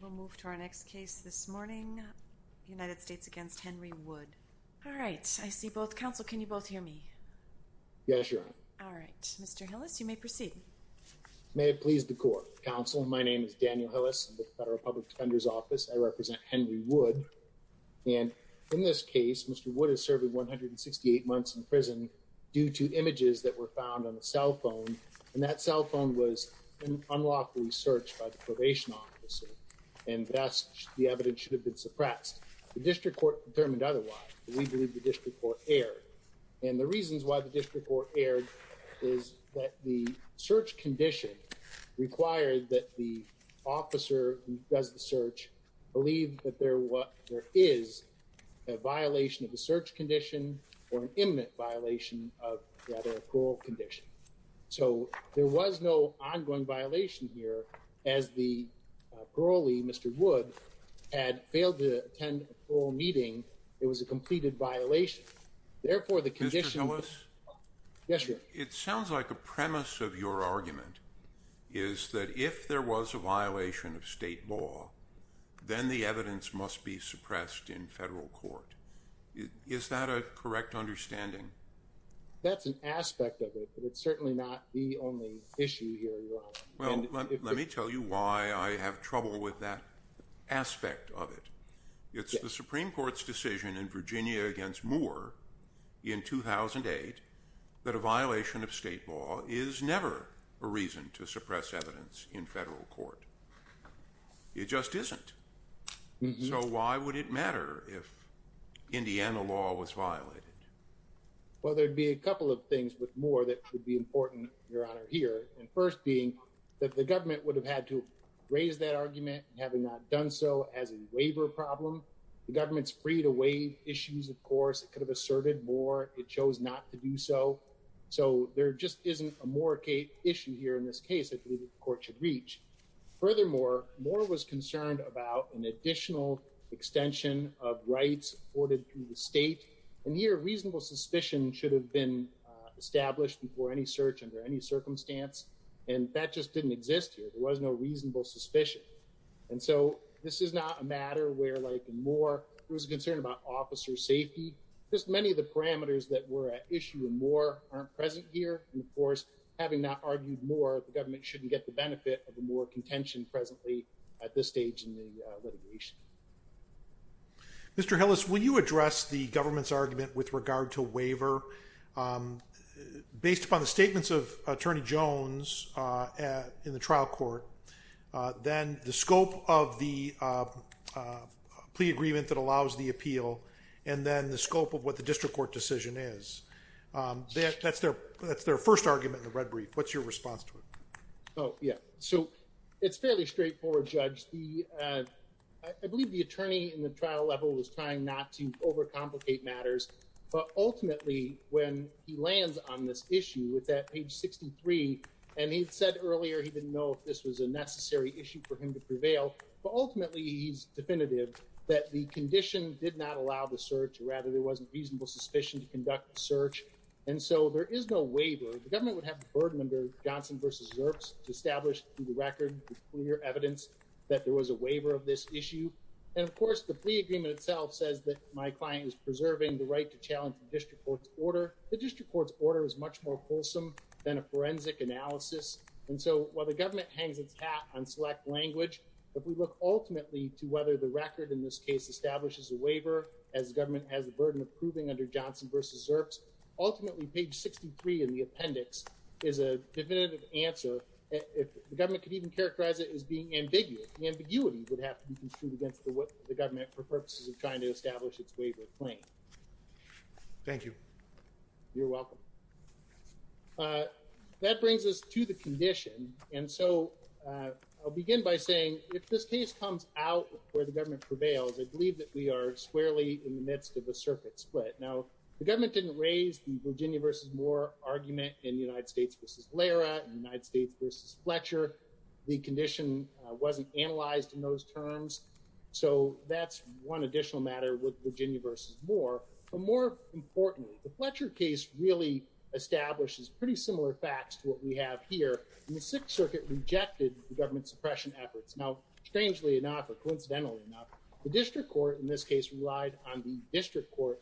We'll move to our next case this morning, United States v. Henry Wood. All right, I see both. Counsel, can you both hear me? Yes, Your Honor. All right. Mr. Hillis, you may proceed. May it please the Court. Counsel, my name is Daniel Hillis. I'm with the Federal Public Defender's Office. I represent Henry Wood. And in this case, Mr. Wood is serving 168 months in prison due to images that were found on a cell phone. And that cell phone was unlawfully searched by the probation office. And thus, the evidence should have been suppressed. The district court determined otherwise. We believe the district court erred. And the reasons why the district court erred is that the search condition required that the officer who does the search believe that there is a violation of the search condition or an imminent violation of the other parole condition. So, there was no ongoing violation here as the parolee, Mr. Wood, had failed to attend a parole meeting. It was a completed violation. Therefore, the condition... Mr. Hillis? Yes, Your Honor. It sounds like a premise of your argument is that if there was a violation of state law, then the evidence must be suppressed in federal court. Is that a correct understanding? That's an aspect of it, but it's certainly not the only issue here, Your Honor. Well, let me tell you why I have trouble with that aspect of it. It's the Supreme Court's decision in Virginia against Moore in 2008 that a violation of state law is never a reason to suppress evidence in federal court. It just isn't. Well, there'd be a couple of things with Moore that would be important, Your Honor, here. First being that the government would have had to raise that argument having not done so as a waiver problem. The government's free to waive issues, of course. It could have asserted Moore. It chose not to do so. So, there just isn't a Moore issue here in this case that the court should reach. Furthermore, Moore was concerned about an additional extension of rights afforded to the state. And here, reasonable suspicion should have been established before any search under any circumstance. And that just didn't exist here. There was no reasonable suspicion. And so, this is not a matter where, like in Moore, there was a concern about officer safety. Just many of the parameters that were at issue in Moore aren't present here. And, of course, having not argued Moore, the government shouldn't get the benefit of the Moore contention presently at this stage in the litigation. Mr. Hillis, will you address the government's argument with regard to waiver based upon the statements of Attorney Jones in the trial court, then the scope of the plea agreement that allows the appeal, and then the scope of what the district court decision is? That's their first argument in the red brief. What's your response to it? Oh, yeah. So, it's fairly straightforward, Judge. I believe the attorney in the trial level was trying not to overcomplicate matters. But ultimately, when he lands on this issue, with that page 63, and he said earlier he didn't know if this was a necessary issue for him to prevail. But ultimately, he's definitive that the condition did not allow the search, or rather there wasn't reasonable suspicion to conduct the search. And so, there is no waiver. The government would have the burden under Johnson v. Zerks to establish through the record with clear evidence that there was a waiver of this issue. And of course, the plea agreement itself says that my client is preserving the right to challenge the district court's order. The district court's order is much more wholesome than a forensic analysis. And so, while the government hangs its hat on select language, if we look ultimately to whether the record in this case establishes a waiver, as the government has the burden of proving under Johnson v. Zerks, ultimately, page 63 in the appendix is a definitive answer if the government could even characterize it as being ambiguous. The ambiguity would have to be construed against the government for purposes of trying to establish its waiver claim. Thank you. You're welcome. That brings us to the condition. And so, I'll begin by saying if this case comes out where the government prevails, I believe that we are squarely in the midst of a circuit split. Now, the government didn't raise the Virginia v. Moore argument in the United States v. Lara, in the United States v. Fletcher. The condition wasn't analyzed in those terms. So, that's one additional matter with Virginia v. Moore. But more importantly, the Fletcher case really establishes pretty similar facts to what we have here. And the Sixth Circuit rejected the government's suppression efforts. Now, strangely enough, or coincidentally enough, the district court in this case relied on the district court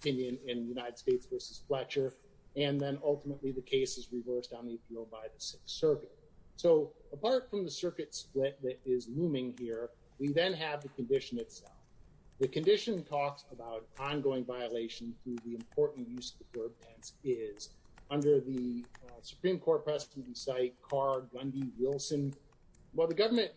opinion in the United States v. Fletcher. And then, ultimately, the case is reversed on the appeal by the Sixth Circuit. So, apart from the circuit split that is looming here, we then have the condition itself. The condition talks about ongoing violation through the important use of the verb tense is. Under the Supreme Court precedent, we cite Carr, Gundy, Wilson. While the government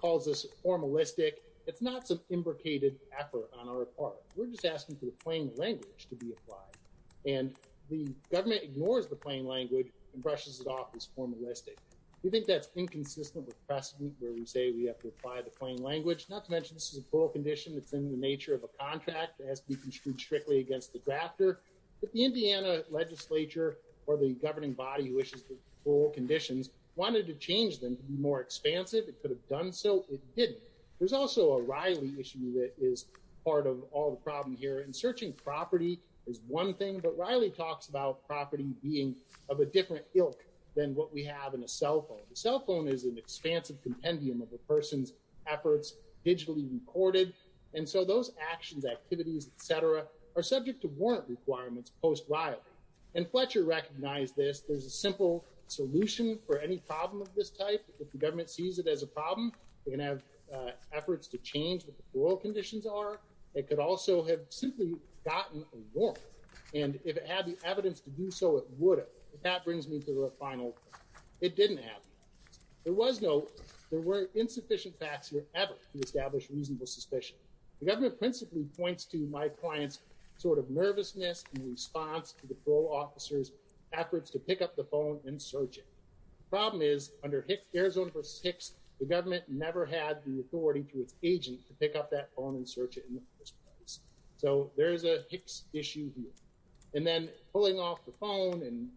calls this formalistic, it's not some imbricated effort on our part. We're just asking for the plain language to be applied. And the government ignores the plain language and brushes it off as formalistic. We think that's inconsistent with precedent where we say we have to apply the plain language. Not to mention this is a plural condition that's in the nature of a contract that has to be construed strictly against the drafter. But the Indiana legislature, or the governing body who issues the plural conditions, wanted to change them to be more expansive. It could have done so. It didn't. There's also a Riley issue that is part of all the problem here. And searching property is one thing, but Riley talks about property being of a different ilk than what we have in a cell phone. A cell phone is an expansive compendium of a person's efforts, digitally recorded, and so those actions, activities, etc. are subject to warrant requirements post-Riley. And Fletcher recognized this. There's a simple solution for any problem of this type. If the government sees it as a problem, they can have efforts to change what the parole conditions are. It could also have simply gotten a warrant. And if it had the evidence to do so, it would have. That brings me to the final point. It didn't happen. There were insufficient facts here ever to establish reasonable suspicion. The government principally points to my client's sort of nervousness in response to the parole officer's efforts to pick up the phone and search it. The problem is, under Arizona v. Hicks, the government never had the authority to its agent to pick up that phone and search it in the first place. So there is a Hicks issue here. And then pulling off the phone and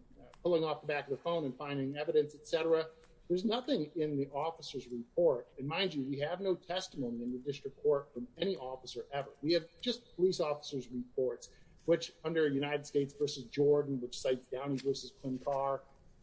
pulling off the back of the phone and finding evidence, etc., there's nothing in the officer's report. And mind you, we have no testimony in the district court from any officer ever. We have just police officers' reports, which under United States v. Jordan, which cites Downey v.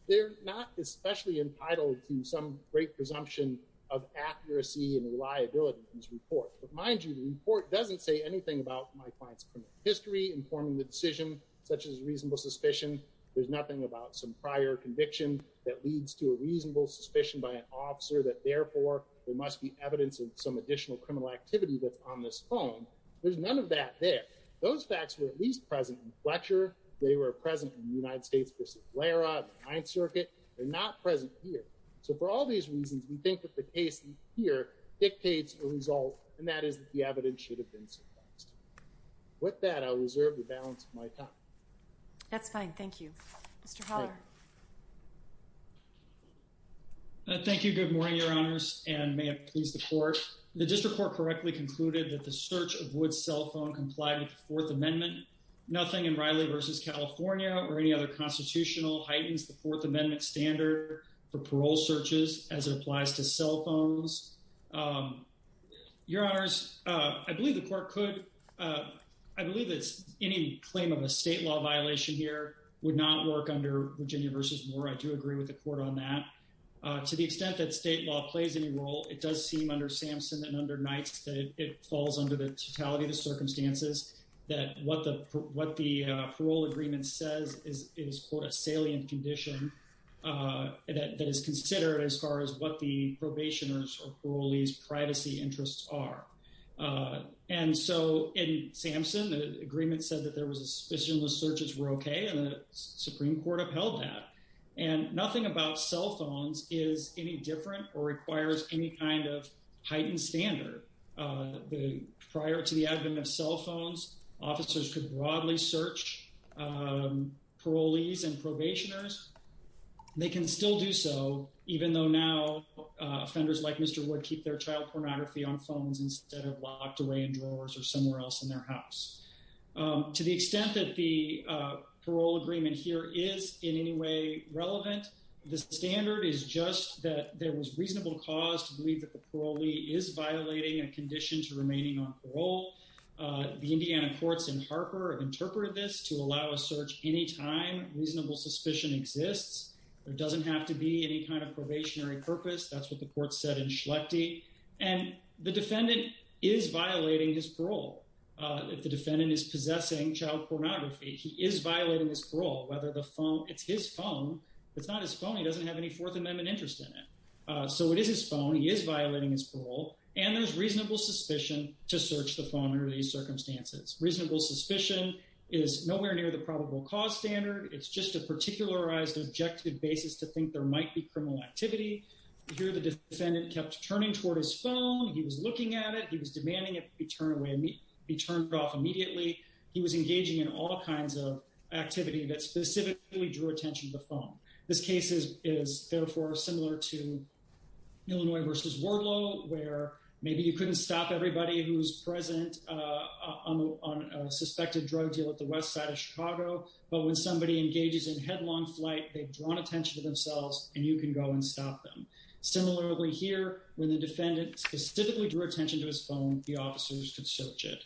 They're not especially entitled to some great presumption of accuracy and reliability in this report. But mind you, the report doesn't say anything about my client's criminal history informing the decision, such as reasonable suspicion. There's nothing about some prior conviction that leads to a reasonable suspicion by an officer that therefore there must be evidence of some additional criminal activity that's on this phone. There's none of that there. Those facts were at least present in Fletcher. They were present in United States v. Laira, the Ninth Circuit. They're not present here. So for all these reasons, we think that the case here dictates the result, and that is that the evidence should have been suppressed. With that, I'll reserve the balance of my time. That's fine. Thank you. Mr. Holler. Thank you. Good morning, Your Honors. And may it please the Court. The district court correctly concluded that the search of Wood's cell phone complied with the Fourth Amendment. Nothing in Riley v. California or any other constitutional heightens the Fourth Amendment standard for parole searches as it applies to cell phones. Your Honors, I believe the Court could, I believe that any claim of a state law violation here would not work under Virginia v. Moore. I do agree with the Court on that. To the extent that state law plays any role in the search of cell phones, I do believe that the Court recognizes that it falls under the totality of the circumstances, that what the parole agreement says is, quote, a salient condition that is considered as far as what the probationers or parolees' privacy interests are. And so in Samson, the agreement said that there was a suspicion the searches were okay, and the Supreme Court upheld that. And nothing about cell phones is in violation of that standard. Prior to the advent of cell phones, officers could broadly search parolees and probationers. They can still do so, even though now offenders like Mr. Wood keep their child pornography on phones instead of locked away in drawers or somewhere else in their house. To the extent that the parole agreement here is in any way relevant, the standard is just that there was reasonable cause to believe that the parolee is violating a condition to remaining on parole. The Indiana courts in Harper have interpreted this to allow a search anytime reasonable suspicion exists. There doesn't have to be any kind of probationary purpose. That's what the Court said in Schlecte. And the defendant is violating his parole. If the defendant is possessing child pornography, he is violating his phone. If it's not his phone, he doesn't have any Fourth Amendment interest in it. So it is his phone. He is violating his parole. And there's reasonable suspicion to search the phone under these circumstances. Reasonable suspicion is nowhere near the probable cause standard. It's just a particularized objective basis to think there might be criminal activity. Here the defendant kept turning toward his phone. He was looking at it. He was demanding it be turned off immediately. He was engaging in all kinds of activity that specifically drew attention to the phone. This case is therefore similar to Illinois v. Warlow where maybe you couldn't stop everybody who's present on a suspected drug deal at the west side of Chicago. But when somebody engages in headlong flight, they've drawn attention to themselves and you can go and stop them. Similarly here, when the defendant specifically drew attention to his phone, the officers could search it.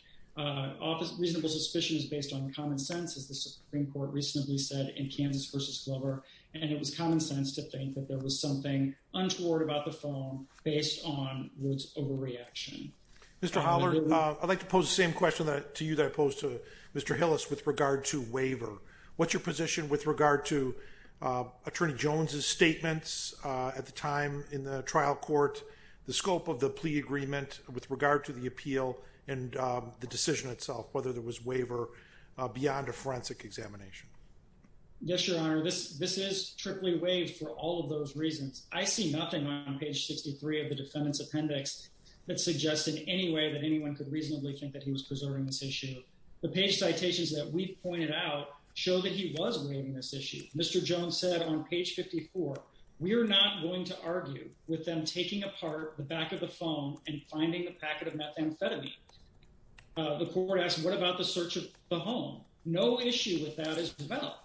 Reasonable suspicion is based on common sense as the Supreme Court recently said in Kansas v. Glover. And it was common sense to think that there was something untoward about the phone based on Woods' overreaction. Mr. Holler, I'd like to pose the same question to you that I posed to Mr. Hillis with regard to waiver. What's your position with regard to Attorney Jones' statements at the time in the trial court, the scope of the plea agreement with regard to the appeal and the decision itself, whether there was waiver beyond a forensic examination? Yes, Your Honor. This is triply waived for all of those reasons. I see nothing on page 63 of the defendant's appendix that suggests in any way that anyone could reasonably think that he was preserving this issue. The page citations that we pointed out show that he was waiving this issue. Mr. Jones said on page 54, we are not going to argue with them taking apart the back of the phone and finding a packet of methamphetamine. The court asked, what about the search of the home? No issue with that as well.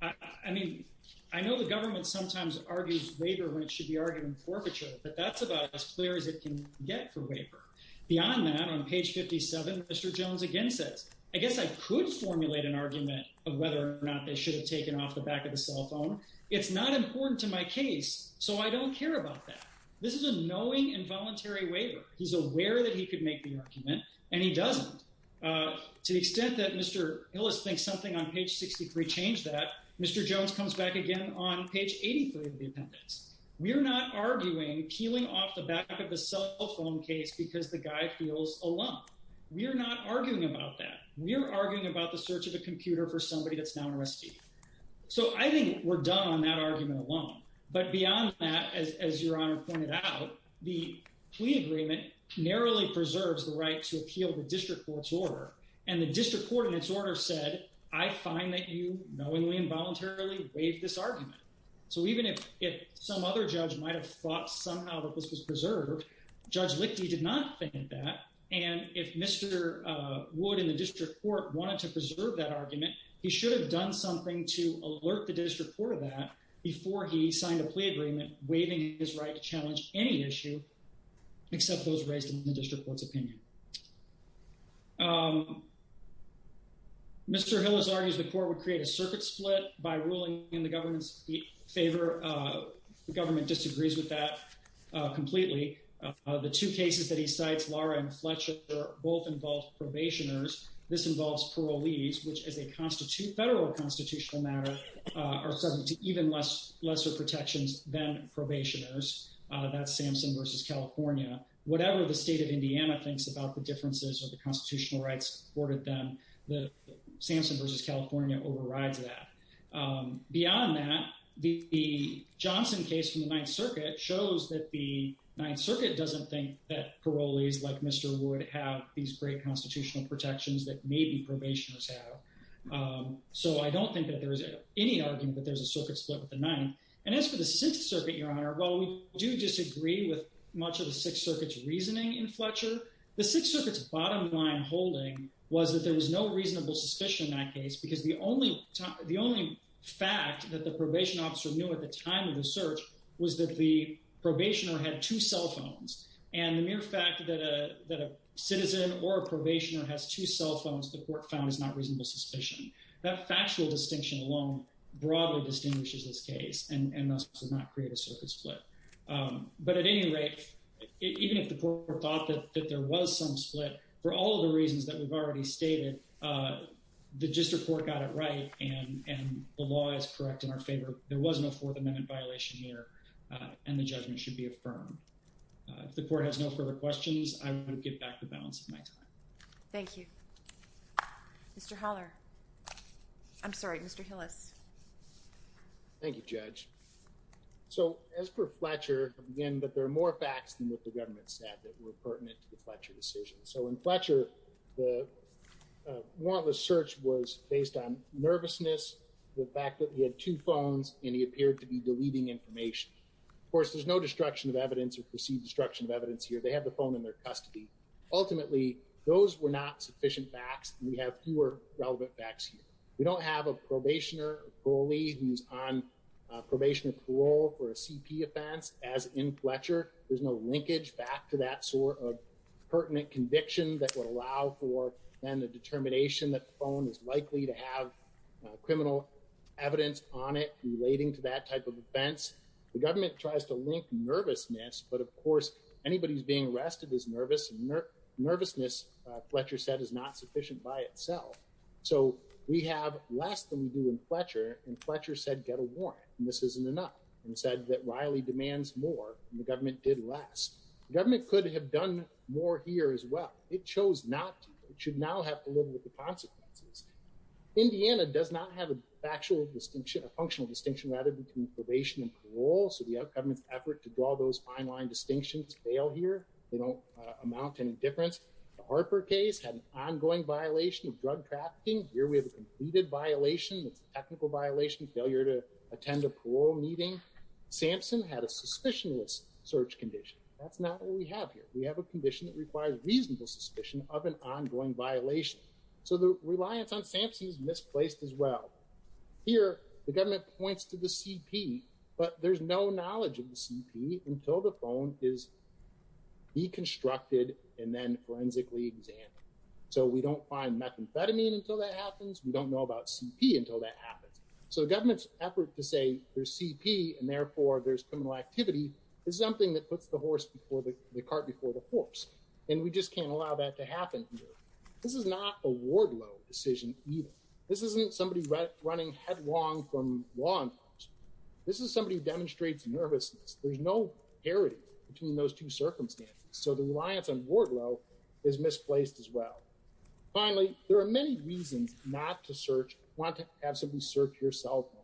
I mean, I know the government sometimes argues waiver when it should be argued in forfeiture, but that's about as clear as it can get for waiver. Beyond that, on page 57, Mr. Jones again says, I guess I could formulate an argument of whether or not they should have taken off the back of the cell phone. It's not that. This is a knowing and voluntary waiver. He's aware that he could make the argument, and he doesn't. To the extent that Mr. Hillis thinks something on page 63 changed that, Mr. Jones comes back again on page 83 of the appendix. We're not arguing peeling off the back of the cell phone case because the guy feels alone. We're not arguing about that. We're arguing about the search of a computer for somebody that's now under arrest. So I think we're done on that point. I just want to point out the plea agreement narrowly preserves the right to appeal the district court's order. And the district court in its order said, I find that you knowingly and voluntarily waived this argument. So even if some other judge might have thought somehow that this was preserved, Judge Lichty did not think that. And if Mr. Wood in the district court wanted to preserve that argument, he should have done something to alert the district court of that before he signed a plea agreement waiving his right to challenge any issue except those raised in the district court's opinion. Mr. Hillis argues the court would create a circuit split by ruling in the government's favor. The government disagrees with that completely. The two cases that he cites, Lara and Fletcher, both involve probationers. This involves parolees, which as a federal constitutional matter are subject to even lesser protections than probationers. That's Samson versus California. Whatever the state of Indiana thinks about the differences or the constitutional rights afforded them, the Samson versus California overrides that. Beyond that, the Johnson case from the Ninth Circuit shows that the Ninth Circuit doesn't think that parolees like Mr. Wood have these great constitutional protections that maybe probationers have. So I don't think that there is any argument that there's a circuit split with the Ninth. And as for the Sixth Circuit, Your Honor, while we do disagree with much of the Sixth Circuit's reasoning in Fletcher, the Sixth Circuit's bottom line holding was that there was no reasonable suspicion in that case because the only fact that the probation officer knew at the time of the search was that the probationer had two cell phones. And the mere fact that a cell phone was found is not reasonable suspicion. That factual distinction alone broadly distinguishes this case and thus does not create a circuit split. But at any rate, even if the court thought that there was some split, for all of the reasons that we've already stated, the district court got it right and the law is correct in our favor. There was no Fourth Amendment violation here and the judgment should be affirmed. If the court has no further questions, I would give back the balance of my time. Thank you. Mr. Holler. I'm sorry, Mr. Hillis. Thank you, Judge. So as per Fletcher, again, but there are more facts than what the government said that were pertinent to the Fletcher decision. So in Fletcher, the warrantless search was based on nervousness, the fact that he had two phones and he appeared to be deleting information. Of course, there's no destruction of evidence or anything like that, but the fact that he had the phone in their custody. Ultimately, those were not sufficient facts. We have fewer relevant facts here. We don't have a probationer or a goalie who's on probation or parole for a CP offense as in Fletcher. There's no linkage back to that sort of pertinent conviction that would allow for then the determination that the phone is likely to have criminal evidence on it relating to that type of crime. So we have less than we do in Fletcher, and Fletcher said get a warrant, and this isn't enough, and said that Riley demands more, and the government did less. The government could have done more here as well. It chose not to. It should now have to live with the consequences. Indiana does not have a functional distinction, rather, between probation and parole, so the government's effort to draw those fine line distinctions fail here. They don't amount to any difference. The Harper case had an ongoing violation of drug trafficking. Here we have a completed violation. It's a technical violation, failure to attend a parole meeting. Sampson had a suspicionless search condition. That's not what we have here. We have a condition that requires reasonable suspicion of an ongoing violation, so the reliance on Sampson is misplaced as well. Here, the government points to the CP, but there's no knowledge of the CP until the phone is deconstructed and then forensically examined, so we don't find methamphetamine until that happens. We don't know about CP until that happens, so the government's effort to say there's CP and therefore there's criminal activity is something that puts the horse before the cart before the horse, and we just can't allow that to happen here. This is not a ward-low decision either. This isn't somebody running headlong from law enforcement. This is somebody who demonstrates nervousness. There's no parity between those two circumstances, so the reliance on ward-low is misplaced as well. Finally, there are many reasons not to search, want to absolutely search your cell phone.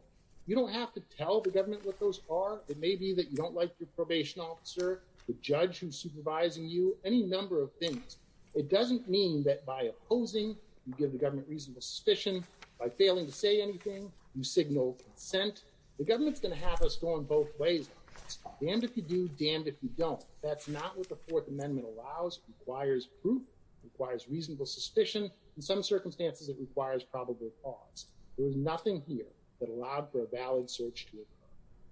You don't have to tell the government what those are. It may be that you don't like your probation officer, the judge who's supervising you, any number of things. It doesn't mean that by opposing, you give the government reasonable suspicion. By failing to say anything, you signal consent. The government's going to have us going both ways on this. Damned if you do, damned if you don't. That's not what the Fourth Amendment allows. It requires proof. It requires reasonable suspicion. In some circumstances, it requires probable cause. There is nothing here that allowed for a valid search to occur.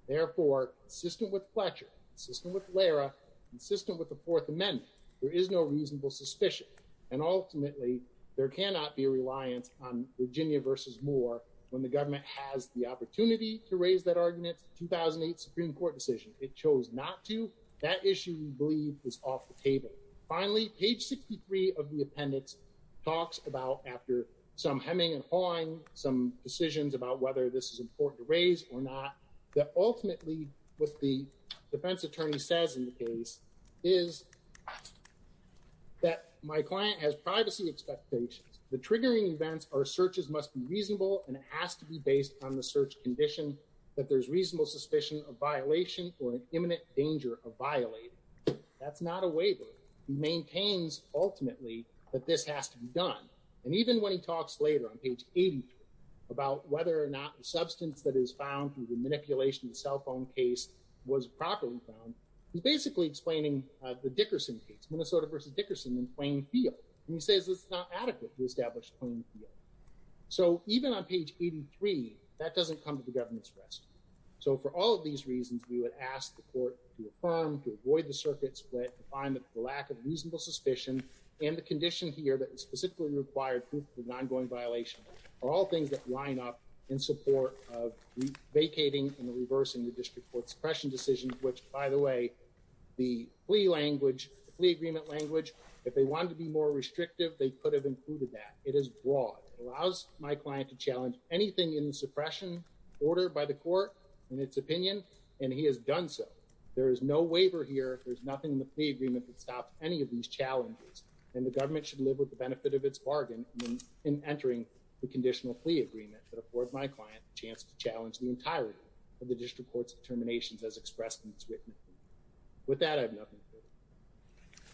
Therefore, consistent with Fletcher, consistent with Lara, consistent with the Fourth Amendment, there is no reasonable suspicion, and ultimately, there cannot be a reliance on Virginia versus Moore when the government has the opportunity to raise that argument. 2008 Supreme Court decision. It chose not to. That issue, we believe, is off the table. Finally, page 63 of the appendix talks about, after some hemming and hawing, some decisions about whether this is important to raise or not, that ultimately what the defense attorney says in the case is that my client has privacy expectations. The triggering events or searches must be reasonable, and it has to be based on the search condition that there's reasonable suspicion of violation or an imminent danger of violating. That's not a waiver. He maintains, ultimately, that this has to be done. And even when he talks later on page 83 about whether or not the substance that is found through the manipulation of the cell phone case was properly found, he's basically explaining the Dickerson case, Minnesota versus Dickerson, in plain field. And he says it's not adequate to establish plain field. So even on page 83, that doesn't come to the government's rest. So for all of these reasons, we would ask the court to affirm, to avoid the circuit split, to find that the lack of reasonable suspicion and the condition here that specifically required proof of an ongoing violation are all things that line up in support of vacating and reversing the district court suppression decision, which, by the way, the plea language, the plea agreement language, if they wanted to be more restrictive, they could have included that. It is broad. It allows my client to challenge anything in the suppression order by the court in its opinion, and he has done so. There is no waiver here. There's nothing in the plea agreement that stops any of these challenges, and the government should live with the benefit of its bargain in entering the conditional plea agreement that affords my client a chance to challenge the entirety of the district court's determinations as expressed in its written plea. With that, I have nothing further.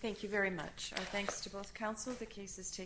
Thank you very much. Our thanks to both counsel. The case is taken